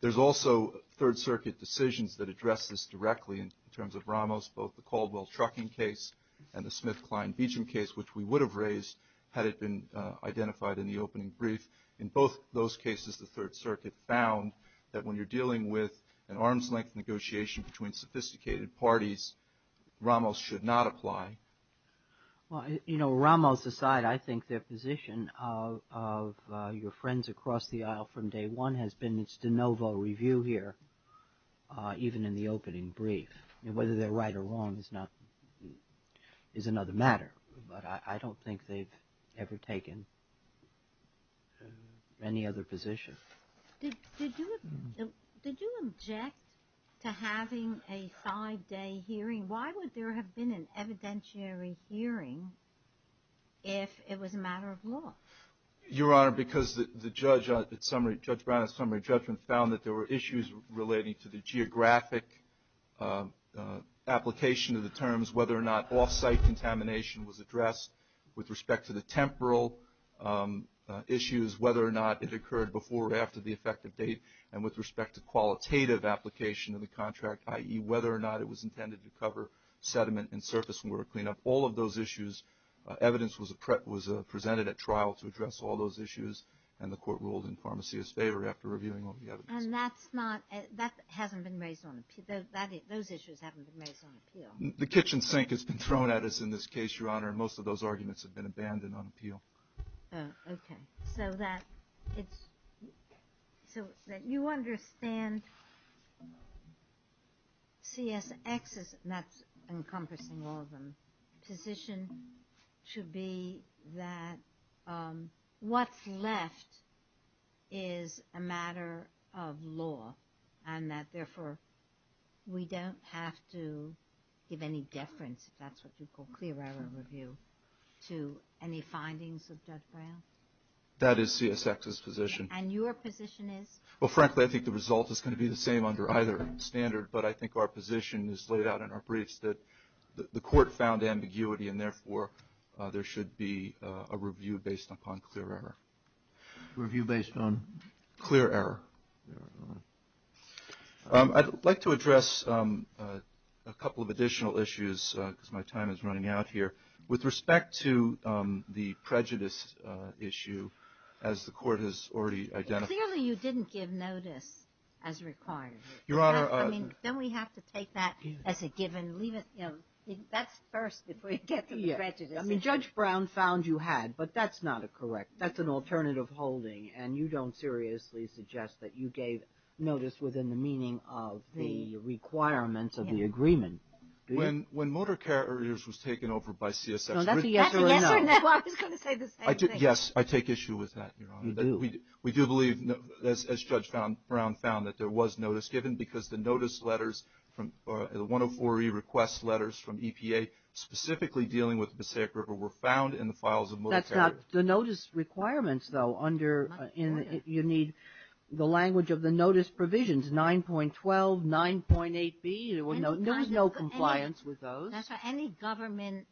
There's also Third Circuit decisions that address this directly in terms of Ramos, both the Caldwell trucking case and the Smith-Klein Beecham case, which we would have raised had it been identified in the opening brief. In both those cases, the Third Circuit found that when you're dealing with an arm's length negotiation between sophisticated parties, Ramos should not apply. Well, you know, Ramos aside, I think their position of your friends across the aisle from day one has been it's de novo review here, even in the opening brief. Whether they're right or wrong is another matter, but I don't think they've ever taken any other position. Did you object to having a five-day hearing? Why would there have been an evidentiary hearing if it was a matter of law? Your Honor, because Judge Brown's summary judgment found that there were issues relating to the geographic application of the terms, whether or not off-site contamination was addressed with respect to the temporal issues, whether or not it occurred before or after the effective date, and with respect to qualitative application of the contract, i.e., whether or not it was intended to cover sediment and surface when we were cleaning up. All of those issues, evidence was presented at trial to address all those issues, and the Court ruled in Pharmacy's favor after reviewing all the evidence. And that hasn't been raised on appeal? Those issues haven't been raised on appeal? The kitchen sink has been thrown at us in this case, Your Honor, and most of those arguments have been abandoned on appeal. Okay. So that you understand CSX's, and that's encompassing all of them, position should be that what's left is a matter of law, and that, therefore, we don't have to give any deference, if that's what you call clear error review, to any findings of Judge Brown? That is CSX's position. And your position is? Well, frankly, I think the result is going to be the same under either standard, but I think our position is laid out in our briefs that the Court found ambiguity, and, therefore, there should be a review based upon clear error. Review based on? Clear error. I'd like to address a couple of additional issues, because my time is running out here. With respect to the prejudice issue, as the Court has already identified, Clearly you didn't give notice as required. Your Honor, I mean, don't we have to take that as a given? Leave it, you know, that's first before you get to the prejudice issue. I mean, Judge Brown found you had, but that's not a correct, that's an alternative holding, and you don't seriously suggest that you gave notice within the meaning of the requirements of the agreement. When motor carriers was taken over by CSX. That's a yes or no. I was going to say the same thing. Yes, I take issue with that, Your Honor. You do. We do believe, as Judge Brown found, that there was notice given, because the notice letters, the 104E request letters from EPA, specifically dealing with the Mosaic River, were found in the files of motor carriers. The notice requirements, though, under, you need the language of the notice provisions, 9.12, 9.8B, there was no compliance with those. That's right. Any government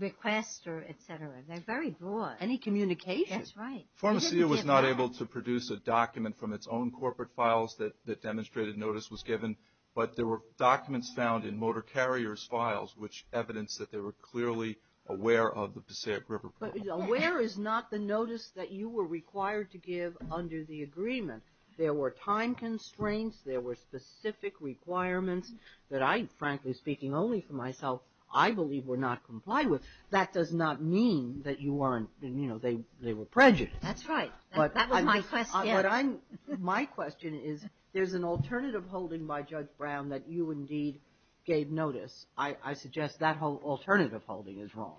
request, or et cetera, they're very broad. Any communication. That's right. Pharmacia was not able to produce a document from its own corporate files that demonstrated notice was given, but there were documents found in motor carriers' files, which evidenced that they were clearly aware of the Mosaic River problem. But aware is not the notice that you were required to give under the agreement. There were time constraints. There were specific requirements. That I, frankly, speaking only for myself, I believe were not complied with. That does not mean that you weren't, you know, they were prejudiced. That's right. That was my question. What I'm, my question is, there's an alternative holding by Judge Brown that you, indeed, gave notice. I suggest that alternative holding is wrong.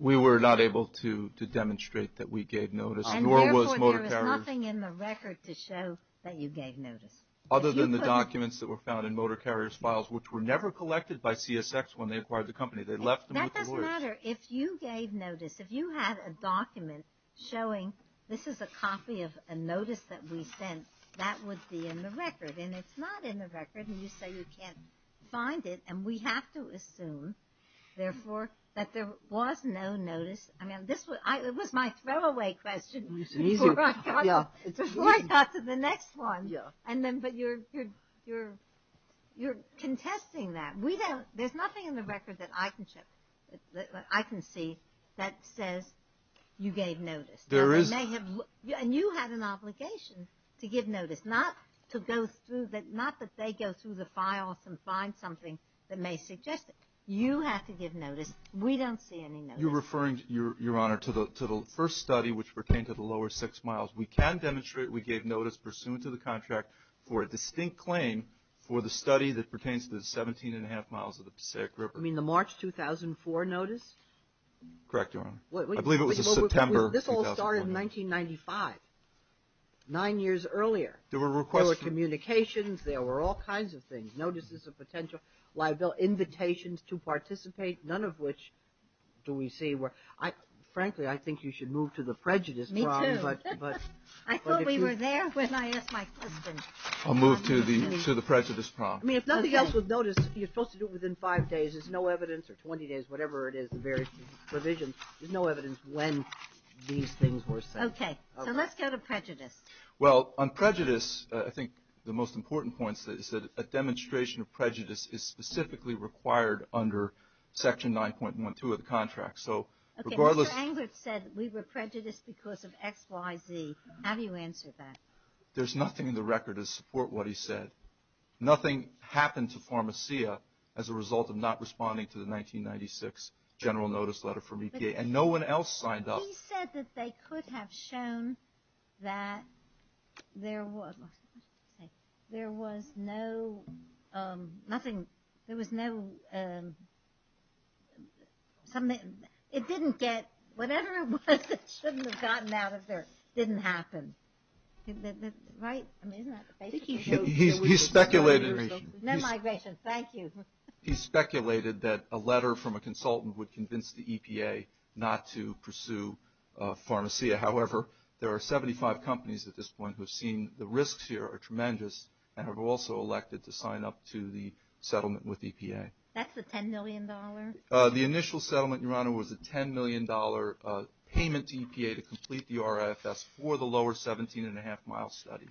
We were not able to demonstrate that we gave notice, nor was motor carriers. And therefore, there was nothing in the record to show that you gave notice. Other than the documents that were found in motor carriers' files, which were never collected by CSX when they acquired the company. They left them with the lawyers. That doesn't matter. If you gave notice, if you had a document showing this is a copy of a notice that we sent, that would be in the record. And it's not in the record. And you say you can't find it. And we have to assume, therefore, that there was no notice. I mean, this was, it was my throwaway question before I got to the next one. And then, but you're, you're, you're contesting that. We don't, there's nothing in the record that I can check, that I can see that says you gave notice. There is. And you had an obligation to give notice, not to go through, not that they go through the files and find something that may suggest it. You have to give notice. We don't see any notice. You're referring, Your Honor, to the first study, which pertained to the lower six miles. We can demonstrate we gave notice pursuant to the contract. For a distinct claim, for the study that pertains to the 17 and a half miles of the Passaic River. You mean the March 2004 notice? Correct, Your Honor. I believe it was September. This all started in 1995. Nine years earlier. There were requests. There were all kinds of things. Notices of potential liability. Invitations to participate. None of which do we see. Frankly, I think you should move to the prejudice problem. Me too. I thought we were there when I asked my question. I'll move to the prejudice problem. I mean, if nothing else with notice, you're supposed to do it within five days. There's no evidence, or 20 days, whatever it is, the various provisions. There's no evidence when these things were said. Okay. So let's go to prejudice. Well, on prejudice, I think the most important point is that a demonstration of prejudice is specifically required under Section 9.12 of the contract. So regardless. Okay. Mr. Englert said we were prejudiced because of X, Y, Z. How do you answer that? There's nothing in the record to support what he said. Nothing happened to Pharmacia as a result of not responding to the 1996 general notice letter from EPA. And no one else signed up. He said that they could have shown that there was no, nothing, there was no, it didn't get, whatever it was that shouldn't have gotten out of there didn't happen. Right? I mean, isn't that the case? He speculated. No migration. Thank you. He speculated that a letter from a consultant would convince the EPA not to pursue Pharmacia. However, there are 75 companies at this point who have seen the risks here are tremendous and have also elected to sign up to the settlement with EPA. That's the $10 million? The initial settlement, Your Honor, was a $10 million payment to EPA to complete the RFS for the lower 17 and a half mile study.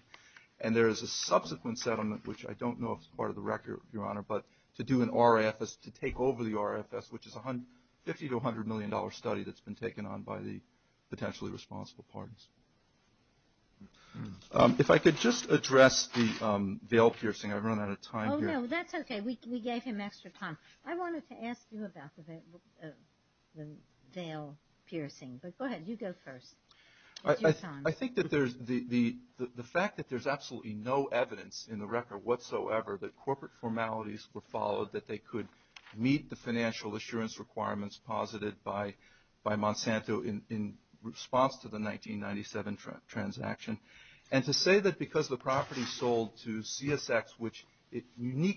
And there is a subsequent settlement, which I don't know if it's part of the record, Your Honor, but to do an RFS, to take over the RFS, which is a $50 to $100 million study that's been taken on by the potentially responsible parties. If I could just address the veil piercing. I've run out of time here. Oh, no, that's okay. We gave him extra time. I wanted to ask you about the veil piercing, but go ahead. You go first. I think that the fact that there's absolutely no evidence in the record whatsoever that corporate formalities were followed, that they could meet the financial assurance requirements posited by Monsanto in response to the 1997 transaction, and to say that because the property sold to CSX, which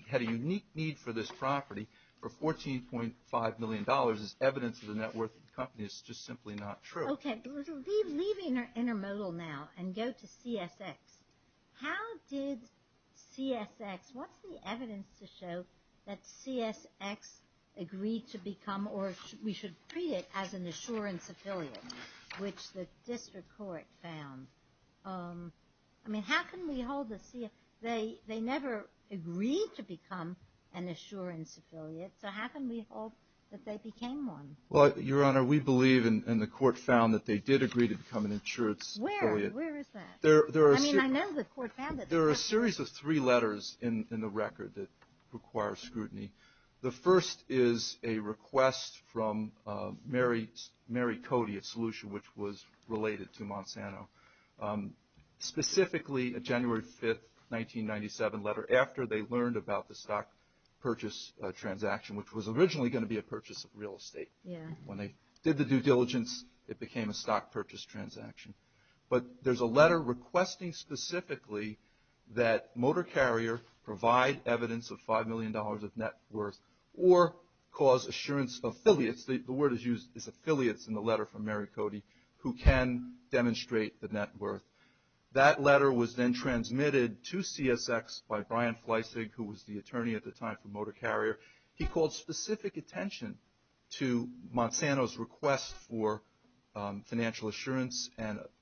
had a unique need for this property for $14.5 million is evidence of the net worth of the company. It's just simply not true. Okay. Leaving our intermodal now and go to CSX. How did CSX, what's the evidence to show that CSX agreed to become, or we should treat it as an assurance affiliate, which the district court found? I mean, how can we hold the, they never agreed to become an assurance affiliate, so how can we hope that they became one? Well, Your Honor, we believe, and the court found that they did agree to become an insurance affiliate. Where is that? I mean, I know the court found it. There are a series of three letters in the record that require scrutiny. The first is a request from Mary Cody at Solution, which was related to Monsanto. Specifically, a January 5th, 1997 letter after they learned about the stock purchase transaction, which was originally going to be a purchase of real estate. When they did the due diligence, it became a stock purchase transaction. But there's a letter requesting specifically that Motor Carrier provide evidence of $5 million of net worth, or cause assurance affiliates. The word is used is affiliates in the letter from Mary Cody, who can demonstrate the net worth. That letter was then transmitted to CSX by Brian Fleissig, who was the attorney at the time for Motor Carrier. He called specific attention to Monsanto's request for financial assurance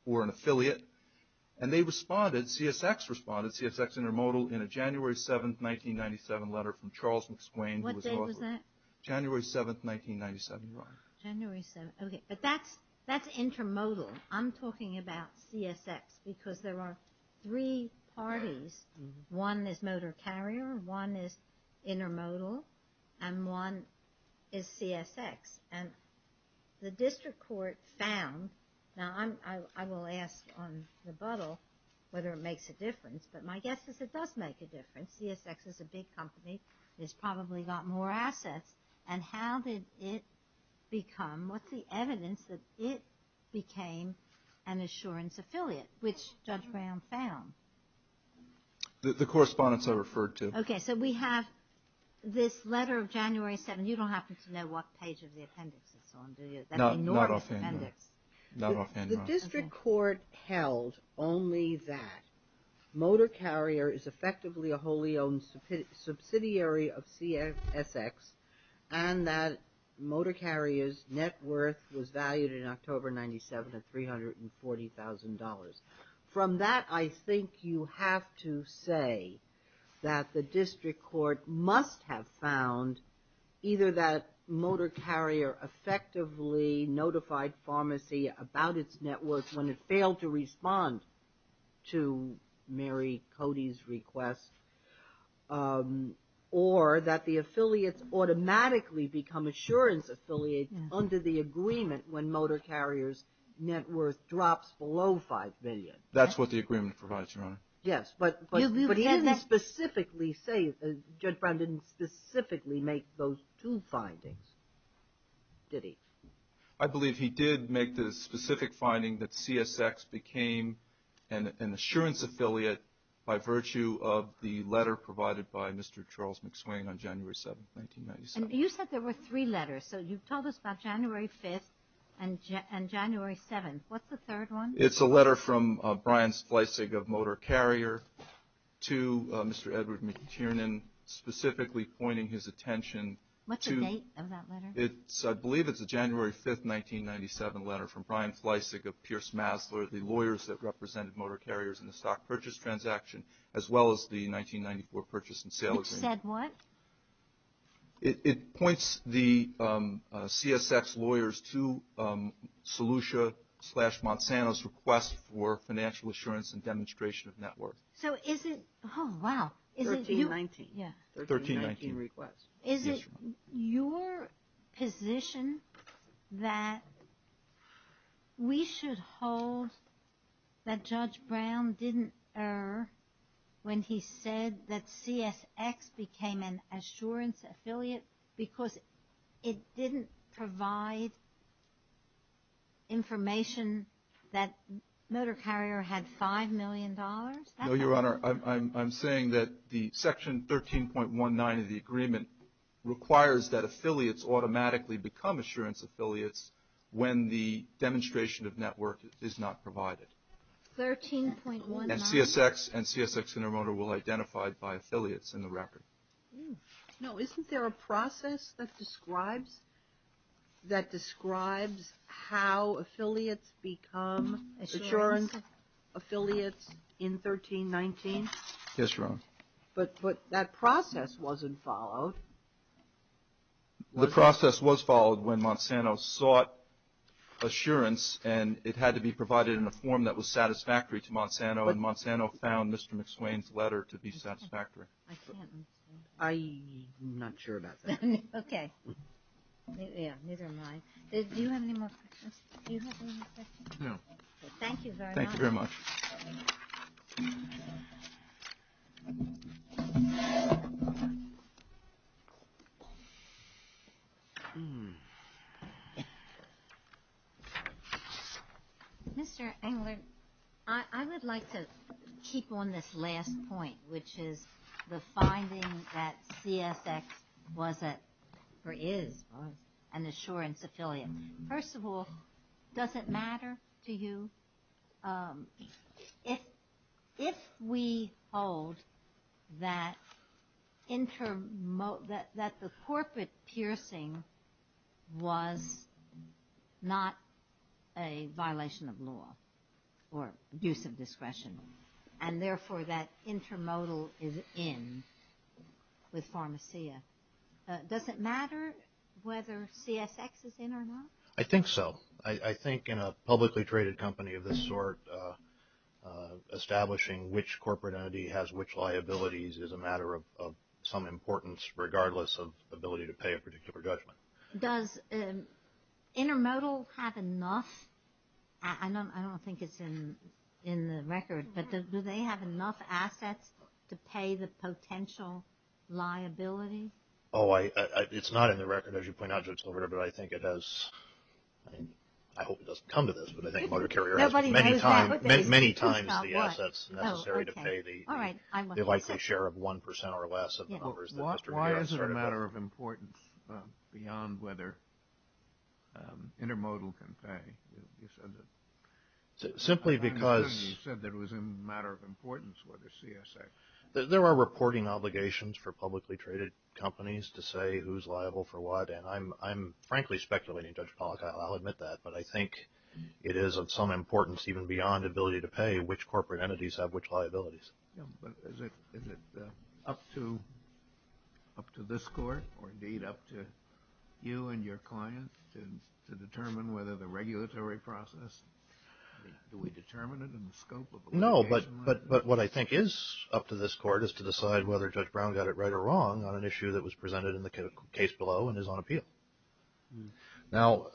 or an affiliate. And they responded, CSX responded, CSX Intermodal, in a January 7th, 1997 letter from Charles McSwain. What day was that? January 7th, 1997. January 7th, okay, but that's intermodal. I'm talking about CSX because there are three parties. One is Motor Carrier, one is Intermodal, and one is CSX. And the district court found, now I will ask on rebuttal whether it makes a difference, but my guess is it does make a difference. CSX is a big company. It's probably got more assets. And how did it become, what's the evidence that it became an assurance affiliate, which Judge Brown found? The correspondence I referred to. Okay, so we have this letter of January 7th. You don't happen to know what page of the appendix it's on, do you? That enormous appendix. Not offhand, not offhand. The district court held only that Motor Carrier is effectively a wholly owned subsidiary of CSX, and that Motor Carrier's net worth was valued in October 1997 at $340,000. From that, I think you have to say that the district court must have found either that Motor Carrier's net worth, when it failed to respond to Mary Cody's request, or that the affiliates automatically become assurance affiliates under the agreement when Motor Carrier's net worth drops below $5 billion. That's what the agreement provides, Your Honor. Yes, but he didn't specifically say, Judge Brown didn't specifically make those two findings, did he? I believe he did make the specific finding that CSX became an assurance affiliate by virtue of the letter provided by Mr. Charles McSwain on January 7th, 1997. And you said there were three letters, so you've told us about January 5th and January 7th. What's the third one? It's a letter from Brian Fleissig of Motor Carrier to Mr. Edward McTiernan, specifically pointing his attention to What's the date of that letter? I believe it's a January 5th, 1997 letter from Brian Fleissig of Pierce Masler, the lawyers that represented Motor Carrier's in the stock purchase transaction, as well as the 1994 purchase and sale agreement. It said what? It points the CSX lawyers to Solution slash Monsanto's request for financial assurance and demonstration of net worth. So is it, oh, wow. 1319. Yeah. 1319 request. Is it your position that we should hold that Judge Brown didn't err when he said that CSX became an assurance affiliate because it didn't provide information that Motor Carrier had $5 million? No, Your Honor. I'm saying that the section 13.19 of the agreement requires that affiliates automatically become assurance affiliates when the demonstration of net worth is not provided. 13.19. And CSX and CSX Intermodal will identify by affiliates in the record. No. Isn't there a process that describes how affiliates become assurance affiliates in 13.19? Yes, Your Honor. But that process wasn't followed. The process was followed when Monsanto sought assurance, and it had to be provided in a form that was satisfactory to Monsanto, and Monsanto found Mr. McSwain's letter to be satisfactory. I'm not sure about that. Okay. Yeah, neither am I. Do you have any more questions? No. Thank you very much. Thank you very much. Mr. Englert, I would like to keep on this last point, which is the finding that CSX was or is an assurance affiliate. First of all, does it matter to you if we hold that the corporate piercing was not a violation of law or use of discretion, and therefore that Intermodal is in with Pharmacia, does it matter whether CSX is in or not? I think so. I think in a publicly traded company of this sort, establishing which corporate entity has which liabilities is a matter of some importance regardless of ability to pay a particular judgment. Does Intermodal have enough? I don't think it's in the record, but do they have enough assets to pay the potential liability? Oh, it's not in the record, as you point out, Judge Lovera, but I think it has, I hope it doesn't come to this, but I think Motor Carrier has many times the assets necessary to pay the likely share of 1% or less of the covers that Mr. McSwain has. Why is it a matter of importance beyond whether Intermodal can pay? Simply because... You said that it was a matter of importance whether CSX... There are reporting obligations for publicly traded companies to say who's liable for what, and I'm frankly speculating, Judge Pollack, I'll admit that, but I think it is of some importance even beyond ability to pay which corporate entities have which liabilities. Yeah, but is it up to this Court or indeed up to you and your clients to determine whether the regulatory process, do we determine it in the scope of... No, but what I think is up to this Court is to decide whether Judge Brown got it right or wrong on an issue that was presented in the case below and is on appeal. Now,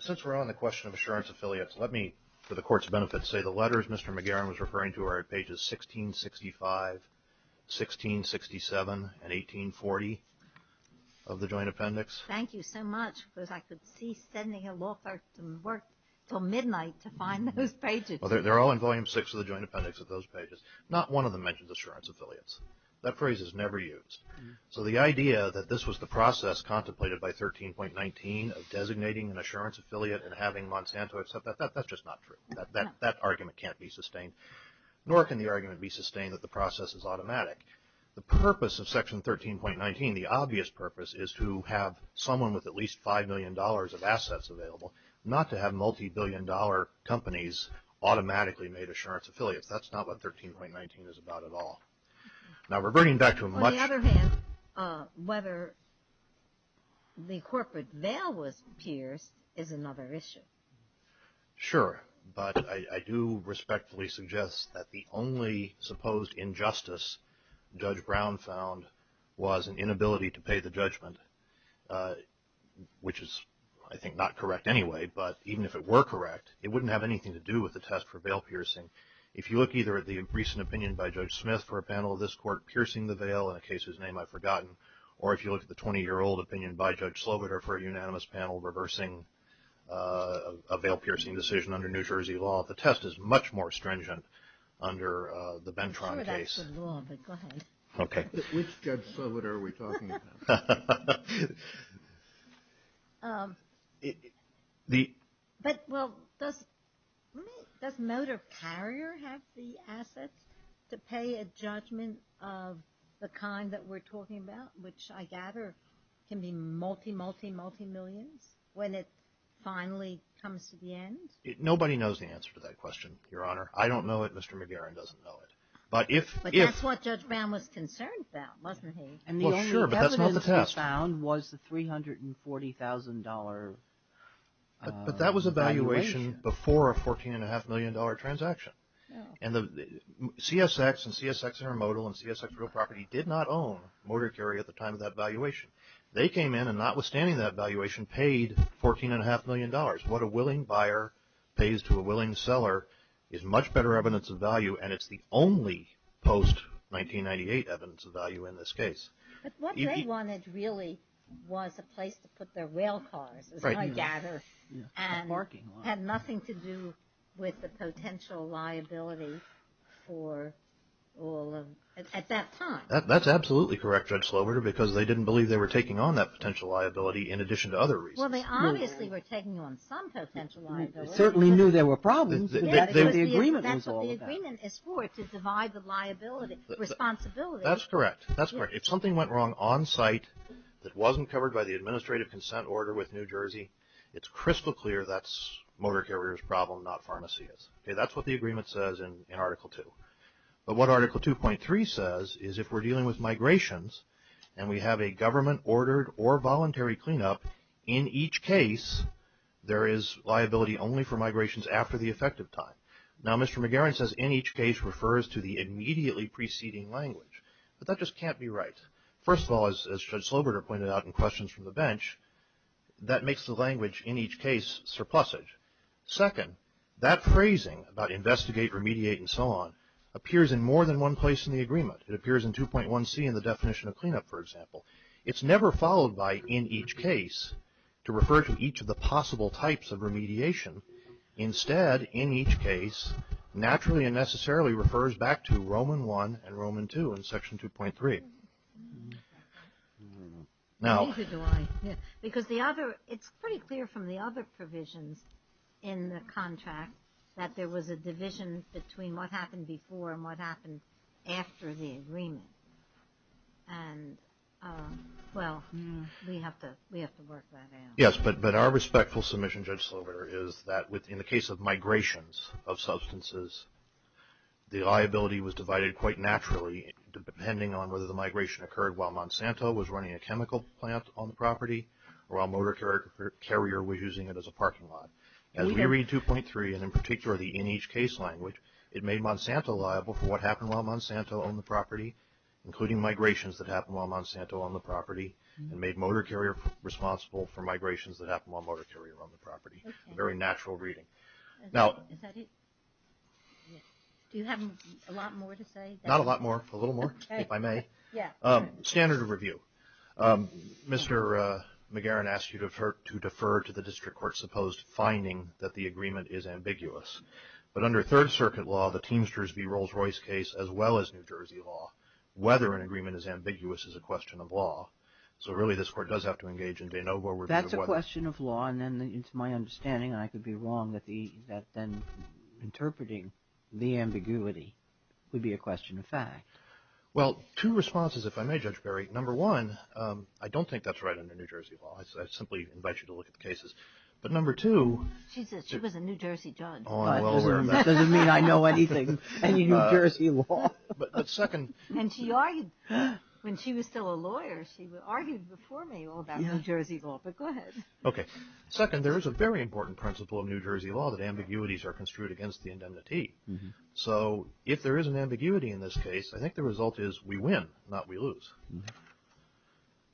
since we're on the question of assurance affiliates, let me, for the Court's benefit, say the letters Mr. McGarren was referring to are at pages 1665, 1667, and 1840 of the Joint Appendix. Thank you so much, because I could see sending a law firm to work till midnight to find those pages. Well, they're all in Volume 6 of the Joint Appendix of those pages. Not one of them mentions assurance affiliates. That phrase is never used. So the idea that this was the process contemplated by 13.19 of designating an assurance affiliate and having Monsanto accept that, that's just not true. That argument can't be sustained, nor can the argument be sustained that the process is automatic. The purpose of Section 13.19, the obvious purpose, is to have someone with at least $5 million of assets available, not to have multibillion-dollar companies automatically made assurance affiliates. That's not what 13.19 is about at all. Now, reverting back to a much- On the other hand, whether the corporate veil was pierced is another issue. Sure. But I do respectfully suggest that the only supposed injustice Judge Brown found was an inability to pay the judgment, which is, I think, not correct anyway. But even if it were correct, it wouldn't have anything to do with the test for veil piercing. If you look either at the recent opinion by Judge Smith for a panel of this court piercing the veil in a case whose name I've forgotten, or if you look at the 20-year-old opinion by Judge Sloboda for a unanimous panel reversing a veil-piercing decision under New Jersey law, the test is much more stringent under the Bentron case. I'm not sure that's the law, but go ahead. Okay. Which judge solid are we talking about? But, well, does Motor Carrier have the assets to pay a judgment of the kind that we're talking about, which I gather can be multi-multi-multi-millions when it finally comes to the end? Nobody knows the answer to that question, Your Honor. I don't know it. Mr. McGarren doesn't know it. But that's what Judge Brown was concerned about, wasn't he? Well, sure, but that's not the test. And the only evidence he found was the $340,000 evaluation. But that was a valuation before a $14.5 million transaction. And CSX and CSX Intermodal and CSX Real Property did not own Motor Carrier at the time of that valuation. They came in and, notwithstanding that valuation, paid $14.5 million. What a willing buyer pays to a willing seller is much better evidence of value, and it's the only post-1998 evidence of value in this case. But what they wanted really was a place to put their rail cars, and had nothing to do with the potential liability for all of, at that time. That's absolutely correct, Judge Sloboda, because they didn't believe they were taking on that potential liability in addition to other reasons. Well, they obviously were taking on some potential liability. They certainly knew there were problems, but the agreement was all about it. That's what the agreement is for, to divide the liability, responsibility. That's correct. If something went wrong on site that wasn't covered by the administrative consent order with New Jersey, it's crystal clear that's Motor Carrier's problem, not Pharmacy's. That's what the agreement says in Article 2. But what Article 2.3 says is if we're dealing with migrations, and we have a government-ordered or voluntary cleanup, in each case there is liability only for migrations after the effective time. Now, Mr. McGarren says, in each case refers to the immediately preceding language. But that just can't be right. First of all, as Judge Sloboda pointed out in questions from the bench, that makes the language in each case surplusage. Second, that phrasing about investigate, remediate, and so on, appears in more than one place in the agreement. It appears in 2.1c in the definition of cleanup, for example. It's never followed by in each case to refer to each of the possible types of remediation. Instead, in each case, naturally and necessarily refers back to Roman I and Roman II in Section 2.3. Now... It's pretty clear from the other provisions in the contract that there was a division between what happened before and what happened after the agreement. And, well, we have to work that out. Yes, but our respectful submission, Judge Sloboda, is that in the case of migrations of substances, the liability was divided quite naturally depending on whether the migration occurred while Monsanto was running a chemical plant on the property or while Motor Carrier was using it as a parking lot. As we read 2.3, and in particular the in each case language, it made Monsanto liable for what happened while Monsanto owned the property, including migrations that happened while Monsanto owned the property, and made Motor Carrier responsible for migrations that happened while Motor Carrier owned the property. Very natural reading. Now... Do you have a lot more to say? Not a lot more. A little more, if I may. Yeah. Standard of review. Mr. McGarren asked you to defer to the district court's supposed finding that the agreement is ambiguous. But under Third Circuit law, the Teamsters v. Rolls-Royce case, as well as New Jersey law, whether an agreement is ambiguous is a question of law. So, really, this court does have to engage in de novo review of whether... That's a question of law, and then it's my understanding, and I could be wrong, that then interpreting the ambiguity would be a question of fact. Well, two responses, if I may, Judge Berry. Number one, I don't think that's right under New Jersey law. I simply invite you to look at the cases. But number two... She said she was a New Jersey judge. Oh, I'm well aware of that. That doesn't mean I know anything, any New Jersey law. But second... And she argued, when she was still a lawyer, she argued before me all about New Jersey law. But go ahead. Okay. Second, there is a very important principle of New Jersey law that ambiguities are construed against the indemnity. So if there is an ambiguity in this case, I think the result is we win, not we lose.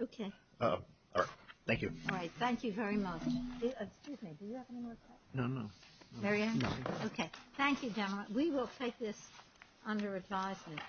Okay. All right. Thank you. All right. Thank you very much. Excuse me. Do you have any more questions? No, no. Mary Ann? No. Okay. Thank you, General. We will take this under advisement.